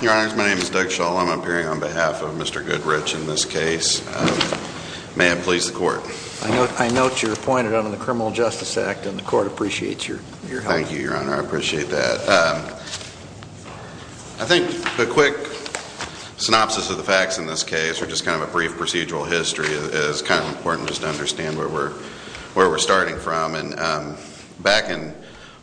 Your Honor, my name is Doug Shull. I'm appearing on behalf of Mr. Goodrich in this case. May it please the Court. I note you're appointed under the Criminal Justice Act and the Court appreciates your help. Thank you, Your Honor, I appreciate that. I think a quick synopsis of the facts in this case or just kind of a brief procedural history is kind of important just to understand where we're starting from. Back in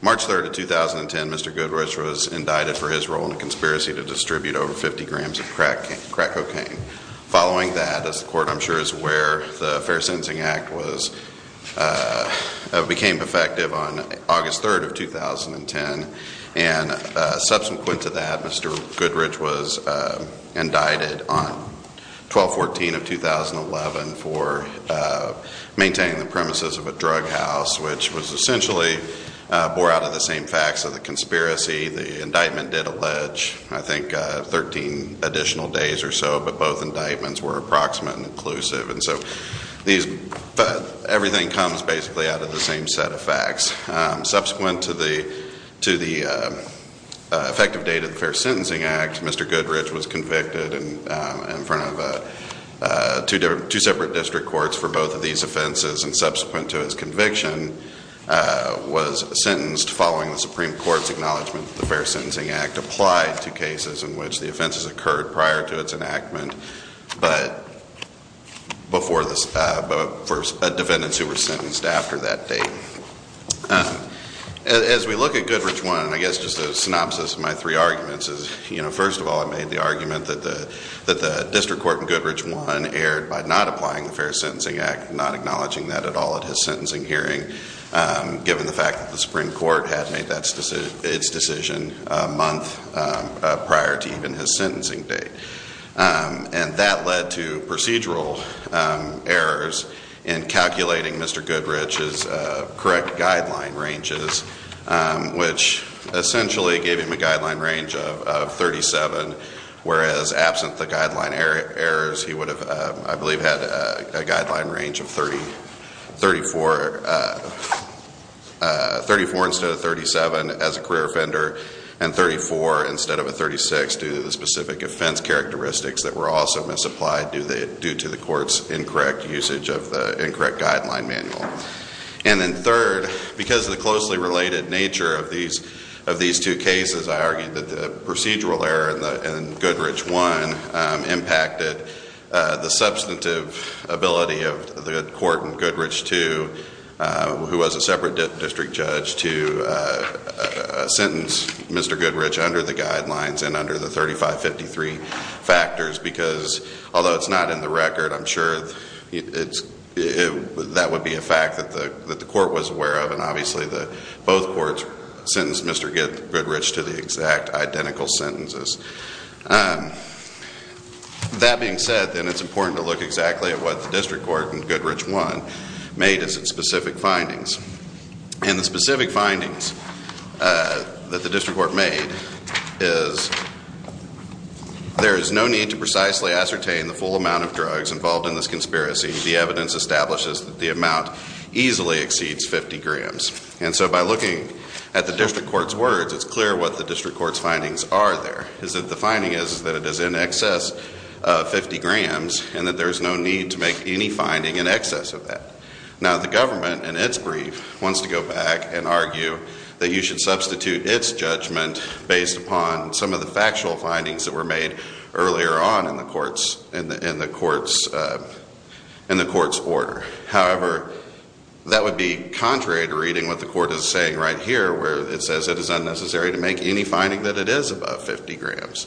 March 3, 2010, Mr. Goodrich was indicted for his role in a conspiracy to distribute over 50 grams of crack cocaine. Following that, as the Court I'm sure is aware, the Fair Sentencing Act became effective on August 3, 2010, and subsequent to that, Mr. Goodrich was indicted on 12-14 of 2011 for maintaining the premises of a drug house, which was essentially bore out of the same facts of the conspiracy, the indictment did allege I think 13 additional days or so, but both indictments were approximate and inclusive, and so everything comes basically out of the same set of facts. Subsequent to the effective date of the Fair Sentencing Act, Mr. Goodrich was convicted in front of two separate district courts for both of these offenses, and subsequent to his conviction was sentenced following the Supreme Court's acknowledgment that the Fair Sentencing Act applied to cases in which the offenses occurred prior to its enactment, but for defendants who were sentenced after that date. As we look at Goodrich 1, I guess just a synopsis of my three arguments is, you know, first of all, I made the argument that the district court in Goodrich 1 erred by not applying the Fair Sentencing Act, not acknowledging that at all at his sentencing hearing, given the fact that the Supreme Court had made its decision a month prior to even his sentencing date, and that led to procedural errors in calculating Mr. Goodrich's correct guideline ranges, which essentially gave him a guideline range of 37, whereas absent the guideline errors, he would have, I believe, had a guideline range of 34 instead of 37 as a career offender, and 34 instead of a 36 due to the specific offense characteristics that were also misapplied due to the court's incorrect usage of the incorrect guideline manual. And then third, because of the closely related nature of these two cases, I argued that the procedural error in Goodrich 1 impacted the substantive ability of the court in Goodrich 2, who was a separate district judge, to sentence Mr. Goodrich under the guidelines and under the 3553 factors, because although it's not in the record, I'm sure that would be a fact that the court was aware of, and obviously both courts sentenced Mr. Goodrich to the exact identical sentences. That being said, then it's important to look exactly at what the district court in Goodrich 1 made as its specific findings. And the specific findings that the district court made is there is no need to precisely ascertain the full amount of drugs involved in this conspiracy. The evidence establishes that the amount easily exceeds 50 grams. And so by looking at the district court's words, it's clear what the district court's findings are there, is that the finding is that it is in excess of 50 grams and that there's no need to make any finding in excess of that. Now, the government in its brief wants to go back and argue that you should substitute its judgment based upon some of the factual findings that were made earlier on in the court's order. However, that would be contrary to reading what the court is saying right here, where it says it is unnecessary to make any finding that it is above 50 grams.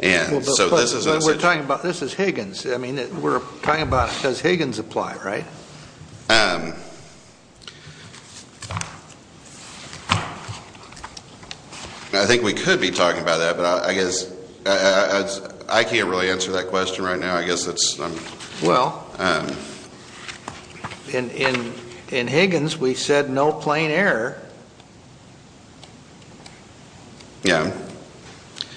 And so this is necessary. This is Higgins. I mean, we're talking about does Higgins apply, right? I think we could be talking about that, but I guess I can't really answer that question right now. I guess it's... Well, in Higgins, we said no plain error. Yeah.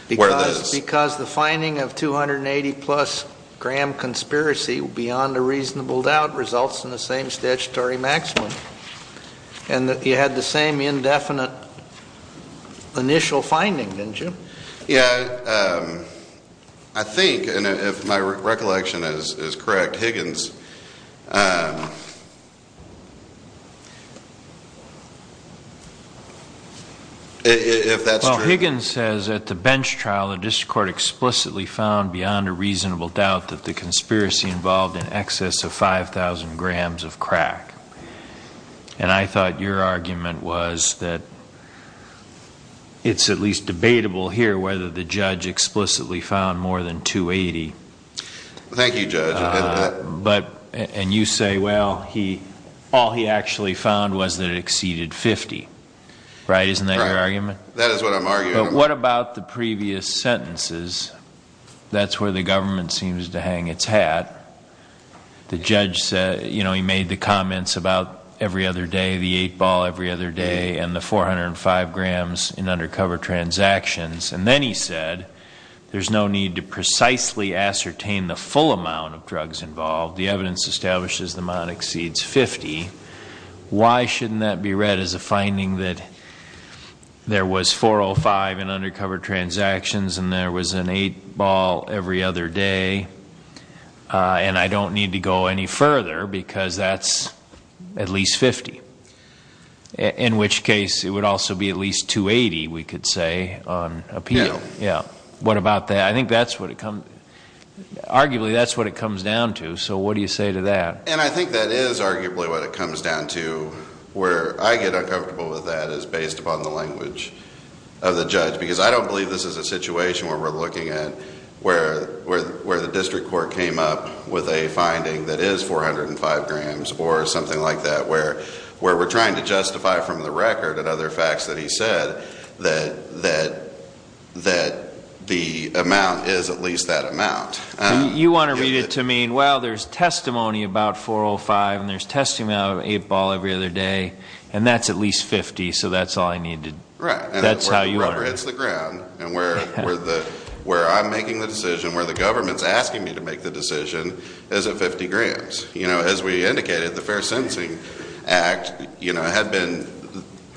Because the finding of 280 plus gram conspiracy beyond a reasonable doubt results in the same statutory maximum. And you had the same indefinite initial finding, didn't you? Yeah. I think, and if my recollection is correct, Higgins... If that's true. Well, Higgins says at the bench trial, the district court explicitly found beyond a reasonable doubt that the conspiracy involved in excess of 5,000 grams of crack. And I thought your argument was that it's at least debatable here whether the judge explicitly found more than 280. Thank you, Judge. And you say, well, all he actually found was that it exceeded 50. Right? Isn't that your argument? That is what I'm arguing. But what about the previous sentences? That's where the government seems to hang its hat. The judge said, he made the comments about every other day, the eight ball every other day, and the 405 grams in undercover transactions. And then he said, there's no need to precisely ascertain the full amount of drugs involved. The evidence establishes the amount exceeds 50. Why shouldn't that be read as a finding that there was 405 in undercover transactions and there was an eight ball every other day? Uh, and I don't need to go any further because that's at least 50. In which case it would also be at least 280, we could say on appeal. Yeah. What about that? I think that's what it comes, arguably, that's what it comes down to. So what do you say to that? And I think that is arguably what it comes down to where I get uncomfortable with that is based upon the language of the judge, because I don't believe this is a situation where we're looking at where, where, where the district court came up with a finding that is 405 grams or something like that, where, where we're trying to justify from the record and other facts that he said that, that, that the amount is at least that amount. You want to read it to mean, well, there's testimony about 405 and there's testimony out of eight ball every other day, and that's at least 50. So that's all I needed. Right. That's how you are. And where the rubber hits the ground and where, where the, where I'm where the government's asking me to make the decision as a 50 grams, you know, as we indicated, the fair sentencing act, you know, had been,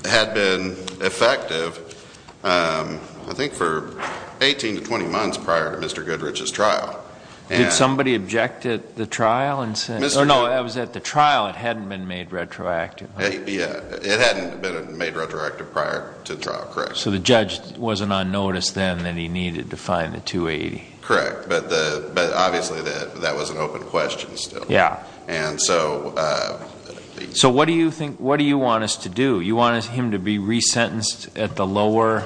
had been effective, um, I think for 18 to 20 months prior to Mr. Goodrich's trial. And somebody objected the trial and said, no, I was at the trial. It hadn't been made retroactive. It hadn't been made retroactive prior to trial. Correct. So the judge wasn't on notice then that he needed to find the 280. Correct. But the, but obviously that, that was an open question still. Yeah. And so, uh, so what do you think, what do you want us to do? You want him to be resentenced at the lower,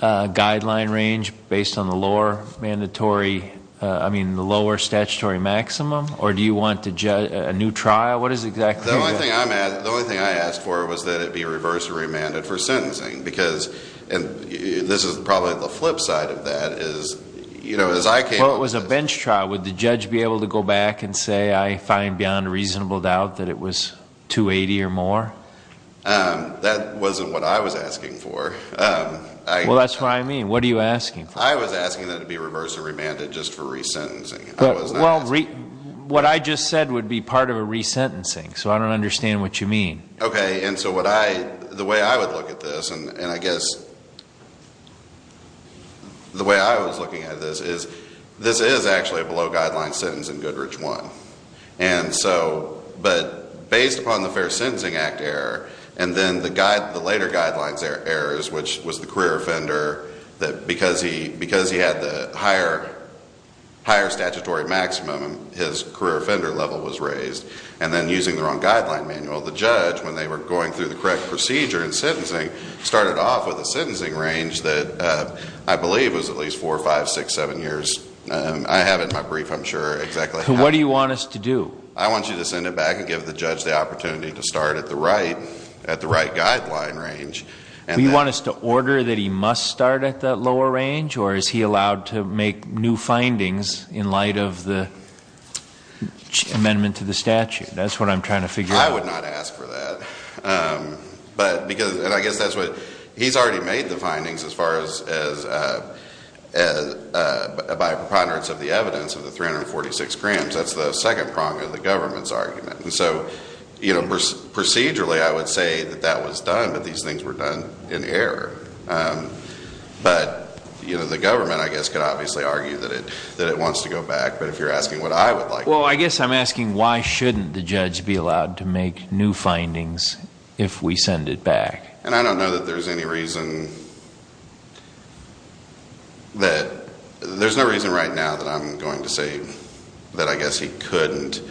uh, guideline range based on the lower mandatory, uh, I mean the lower statutory maximum, or do you want to judge a new trial? What is exactly? The only thing I'm at, the only thing I asked for was that it be reverse remanded for sentencing because, and this is probably the flip side of that is, you know, as I came. Well, it was a bench trial. Would the judge be able to go back and say, I find beyond reasonable doubt that it was 280 or more? Um, that wasn't what I was asking for. Well, that's what I mean. What are you asking for? I was asking that it be reverse remanded just for resentencing. Well, what I just said would be part of a resentencing. So I don't understand what you mean. Okay. And so what I, the way I would look at this and I guess the way I was looking at this is, this is actually a below guideline sentence in Goodrich one. And so, but based upon the fair sentencing act error, and then the guide, the later guidelines errors, which was the career offender that because he, because he had the higher, higher statutory maximum, his career offender level was raised. And then using the wrong manual, the judge, when they were going through the correct procedure and sentencing started off with a sentencing range that, uh, I believe it was at least four or five, six, seven years. I have it in my brief. I'm sure exactly. What do you want us to do? I want you to send it back and give the judge the opportunity to start at the right, at the right guideline range. And you want us to order that he must start at that lower range, or is he allowed to make new findings in light of the amendment to the statute? That's what I'm trying to figure out. I would not ask for that. Um, but because, and I guess that's what he's already made the findings as far as, as, uh, uh, by preponderance of the evidence of the 346 grams, that's the second prong of the government's argument. And so, you know, procedurally, I would say that that was that it wants to go back. But if you're asking what I would like, well, I guess I'm asking why shouldn't the judge be allowed to make new findings if we send it back? And I don't know that there's any reason that there's no reason right now that I'm going to say that I guess he couldn't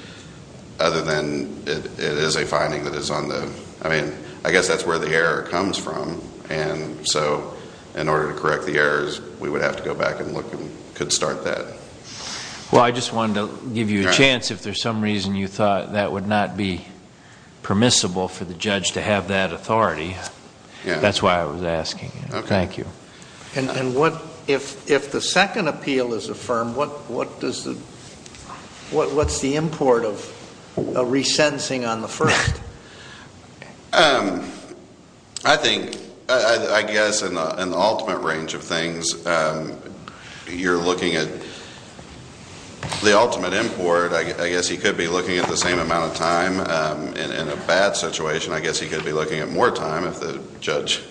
other than it is a finding that is on the, I mean, I guess that's where the error comes from. And so in order to correct the errors, we would have to go back and look and could start that. Well, I just wanted to give you a chance if there's some reason you thought that would not be permissible for the judge to have that authority. That's why I was asking. Thank you. And what if, if the second appeal is affirmed, what, what does the, what, what's the import of a resentencing on the first? I think, I guess, in the ultimate range of things, you're looking at the ultimate import. I guess he could be looking at the same amount of time in a bad situation. I guess he could be looking at more time if the judge,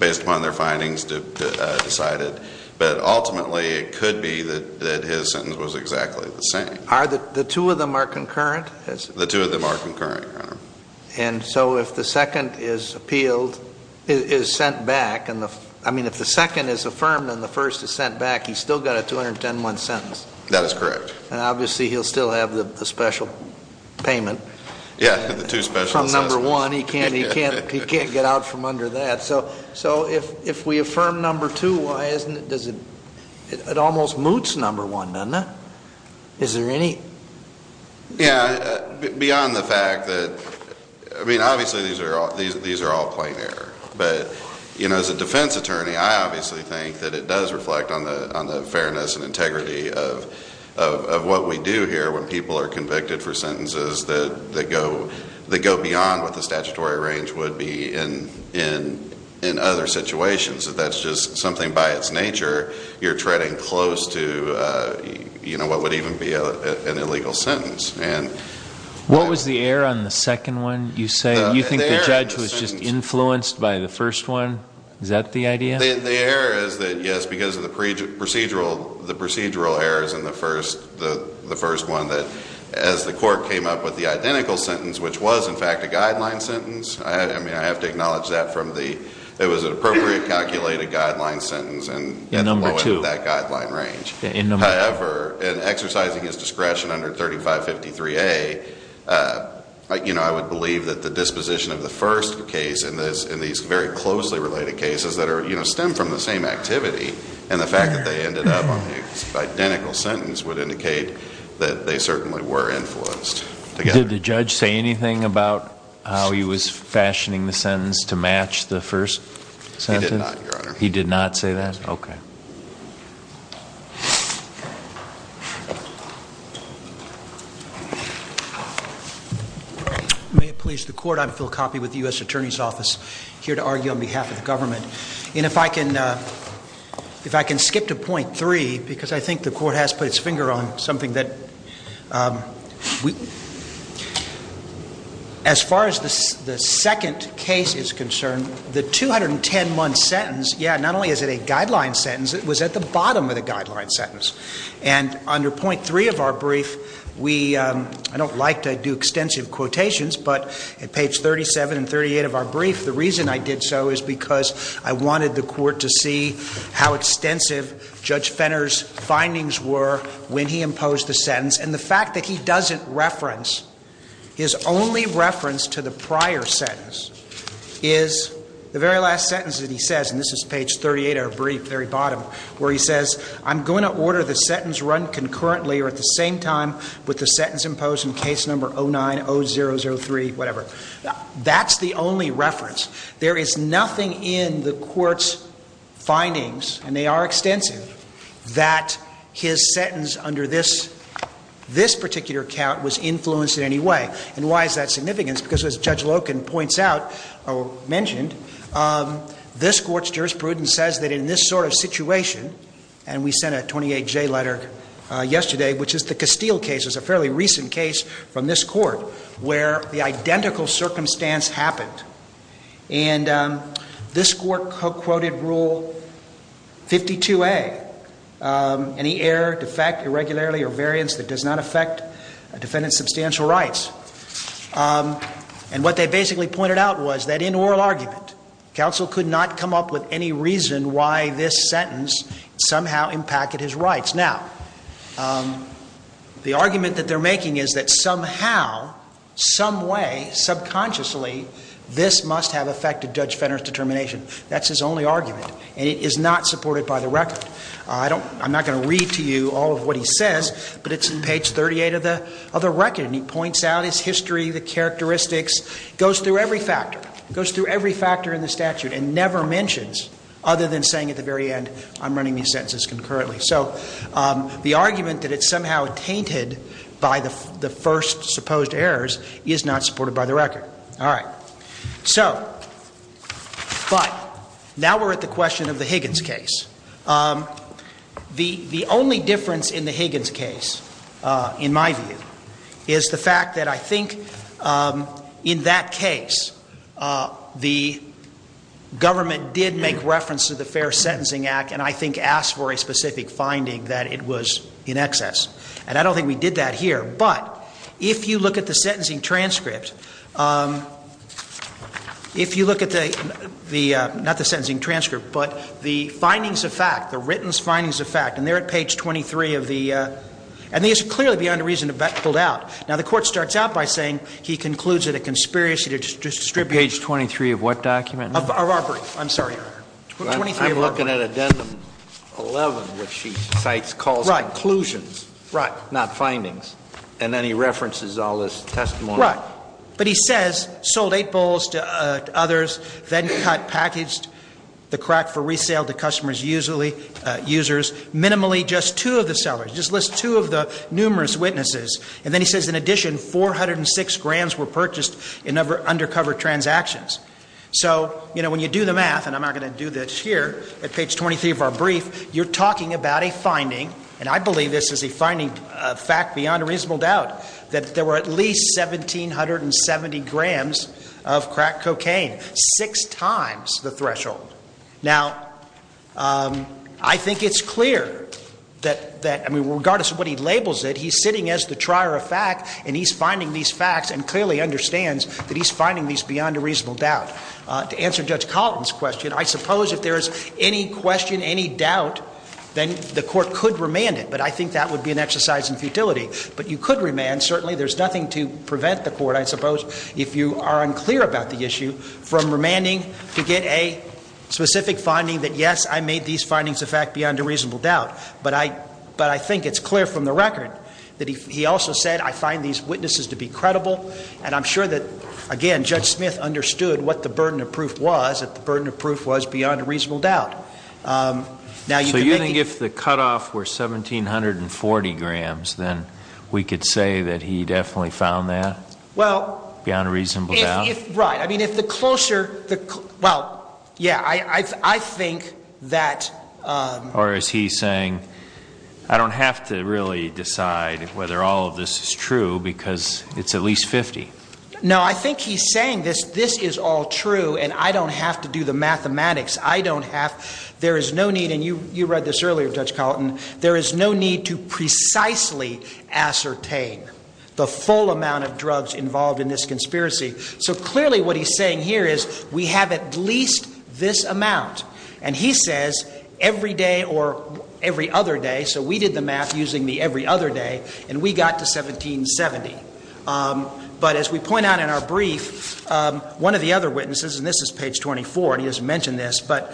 based upon their findings, decided. But the two of them are concurrent? The two of them are concurrent, Your Honor. And so if the second is appealed, is sent back, and the, I mean, if the second is affirmed and the first is sent back, he's still got a 211 sentence. That is correct. And obviously he'll still have the special payment. Yeah, the two special sentences. From number one, he can't, he can't, he can't get out from under that. So, so if, if we affirm number two, why isn't it, does it, it almost moots number one, doesn't it? Is there any? Yeah, beyond the fact that, I mean, obviously these are all, these, these are all plain error. But, you know, as a defense attorney, I obviously think that it does reflect on the, on the fairness and integrity of, of, of what we do here when people are convicted for sentences that, that go, that go beyond what the statutory range would be in, in, in other situations. If that's just something by its nature, you're treading close to, you know, what would even be an illegal sentence. And. What was the error on the second one, you say? You think the judge was just influenced by the first one? Is that the idea? The error is that, yes, because of the procedural, the procedural errors in the first, the first one that, as the court came up with the identical sentence, which was, in fact, a guideline sentence. I mean, I have to judge that from the, it was an appropriate calculated guideline sentence and. In number two. That guideline range. However, in exercising his discretion under 3553A, you know, I would believe that the disposition of the first case in this, in these very closely related cases that are, you know, stem from the same activity. And the fact that they ended up on the identical sentence would indicate that they certainly were influenced. Did the judge say anything about how he was fashioning the sentence to match the first sentence? He did not, Your Honor. He did not say that? Okay. May it please the court. I'm Phil Coffey with the U.S. Attorney's Office here to argue on behalf of the government. And if I can, if I can skip to point three, because I think the court has put its finger on something that we, as far as the second case is concerned, the 210 month sentence, yeah, not only is it a guideline sentence, it was at the bottom of the guideline sentence. And under point three of our brief, we, I don't like to do extensive quotations, but at page 37 and 38 of our brief, the reason I did so is because I wanted the court to see how extensive Judge Fenner's findings were when he imposed the sentence. And the fact that he doesn't reference, his only reference to the prior sentence is the very last sentence that he says, and this is page 38 of our brief, very bottom, where he says, I'm going to order the sentence run concurrently or at the same time with the sentence imposed in case number 09-003, whatever. That's the only findings, and they are extensive, that his sentence under this, this particular count was influenced in any way. And why is that significant? Because as Judge Loken points out, or mentioned, this court's jurisprudence says that in this sort of situation, and we sent a 28J letter yesterday, which is the Castile case. It was a fairly recent case from this court where the identical circumstance happened. And this court co-quoted rule 52A, any error, defect, irregularly, or variance that does not affect a defendant's substantial rights. And what they basically pointed out was that in oral argument, counsel could not come up with any reason why this sentence somehow impacted his rights. Now, the argument that they're making is that somehow, some way, subconsciously, this must have affected Judge Fenner's determination. That's his only argument, and it is not supported by the record. I don't, I'm not going to read to you all of what he says, but it's in page 38 of the record, and he points out his history, the characteristics, goes through every factor, goes through every factor in the statute, and never mentions, other than saying at the very end, I'm running these sentences concurrently. So the argument that it's somehow tainted by the first supposed errors is not supported by the record. All right. So, but, now we're at the question of the Higgins case. The only difference in the Higgins case, in my view, is the fact that I think, in that case, the government did make reference to the And I don't think we did that here, but if you look at the sentencing transcript, if you look at the, the, not the sentencing transcript, but the findings of fact, the written findings of fact, and they're at page 23 of the, and these are clearly beyond a reason to be pulled out. Now, the Court starts out by saying he concludes that a conspiracy to distribute. Page 23 of what document? Of our brief. I'm sorry. 23 of our brief. I'm looking at addendum 11, which she cites calls for conclusions. Right. Not findings. And then he references all this testimony. Right. But he says, sold eight bowls to others, then cut, packaged the crack for resale to customers usually, users, minimally just two of the sellers, just list two of the numerous witnesses. And then he says, in addition, 406 grams were purchased in undercover transactions. So, you know, when you do the math, and I'm not going to do this here, at page 23 of our brief, you're talking about a finding, and I believe this is a finding, a fact beyond a reasonable doubt, that there were at least 1770 grams of crack cocaine, six times the threshold. Now, I think it's clear that, that, I mean, regardless of what he labels it, he's sitting as the trier of fact, and he's finding these facts and clearly understands that he's finding these beyond a reasonable doubt. To answer Judge Collin's question, I suppose if there's any question, any doubt, then the court could remand it. But I think that would be an exercise in futility. But you could remand. Certainly there's nothing to prevent the court, I suppose, if you are unclear about the issue, from remanding to get a specific finding that, yes, I made these findings a fact beyond a reasonable doubt. But I, but I think it's clear from the record that he, he also said, I find these witnesses to be credible. And I'm sure that, again, Judge Smith understood what the burden of proof was, that the burden of proof was beyond a reasonable doubt. Now, you can make it. So you think if the cutoff were 1740 grams, then we could say that he definitely found that? Well. Beyond a reasonable doubt? If, if, right. I mean, if the closer the, well, yeah, I, I, I think that. Or is he saying, I don't have to really decide whether all of this is true because it's at least 50? No, I think he's saying this, this is all true and I don't have to do the mathematics. I don't have, there is no need, and you, you read this earlier, Judge Carlton, there is no need to precisely ascertain the full amount of drugs involved in this conspiracy. So clearly what he's saying here is we have at least this amount. And he says every day or every other day. So we did the math using the every other day and we got to 1770. But as we point out in our brief, one of the other witnesses, and this is page 24, and he doesn't mention this, but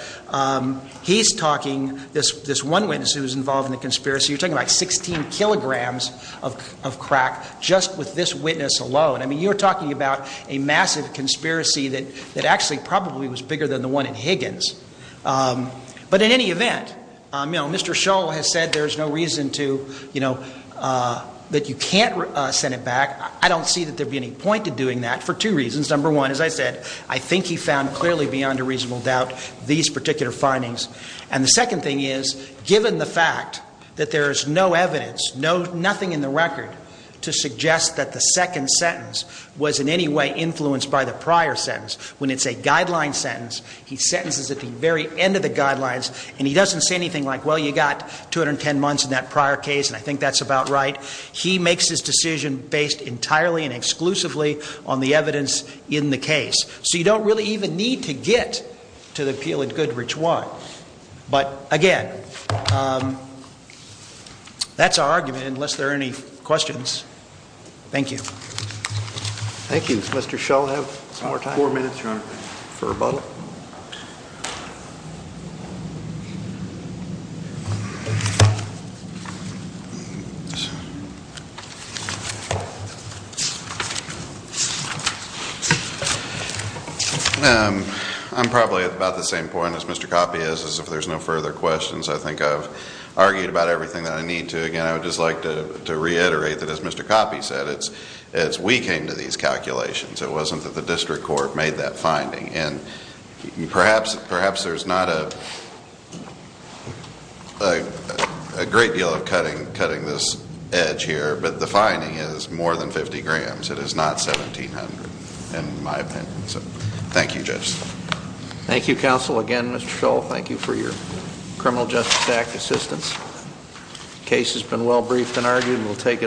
he's talking, this, this one witness who was involved in the conspiracy, you're talking about 16 kilograms of, of crack just with this witness alone. I mean, you're talking about a massive conspiracy that, that actually probably was bigger than the one in Higgins. But in any event, you know, Mr. Shull has said there's no reason to, you know, that you can't send it back. I don't see that there'd be any point to doing that for two reasons. Number one, as I said, I think he found clearly beyond a reasonable doubt these particular findings. And the second thing is given the fact that there is no evidence, no, nothing in the record to suggest that the second sentence was in any way influenced by the prior sentence, when it's a guideline sentence, he sentences at the very end of the guidelines and he doesn't say anything like, well, you got 210 months in that prior case. And I think that's about right. He makes his decision based entirely and exclusively on the evidence in the case. So you don't really even need to get to the appeal at Goodrich one. But again, um, that's our argument, unless there are any questions. Thank you. Thank you, Mr. Shull. Have some more time, four minutes, Your Honor, for rebuttal. Um, I'm probably at about the same point as Mr. Coppi is, as if there's no further questions. I think I've argued about everything that I need to. Again, I would just like to reiterate that, it's, it's, we came to these calculations. It wasn't that the district court made that finding. And perhaps, perhaps there's not a, a great deal of cutting, cutting this edge here, but the finding is more than 50 grams. It is not 1700, in my opinion. So thank you, Judge. Thank you, counsel. Again, Mr. Shull, thank you for your Criminal Justice Act assistance. The case has been well adjudicated. Thank you. Thank you, Your Honor. Thank you. Thank you, Mr. Shull.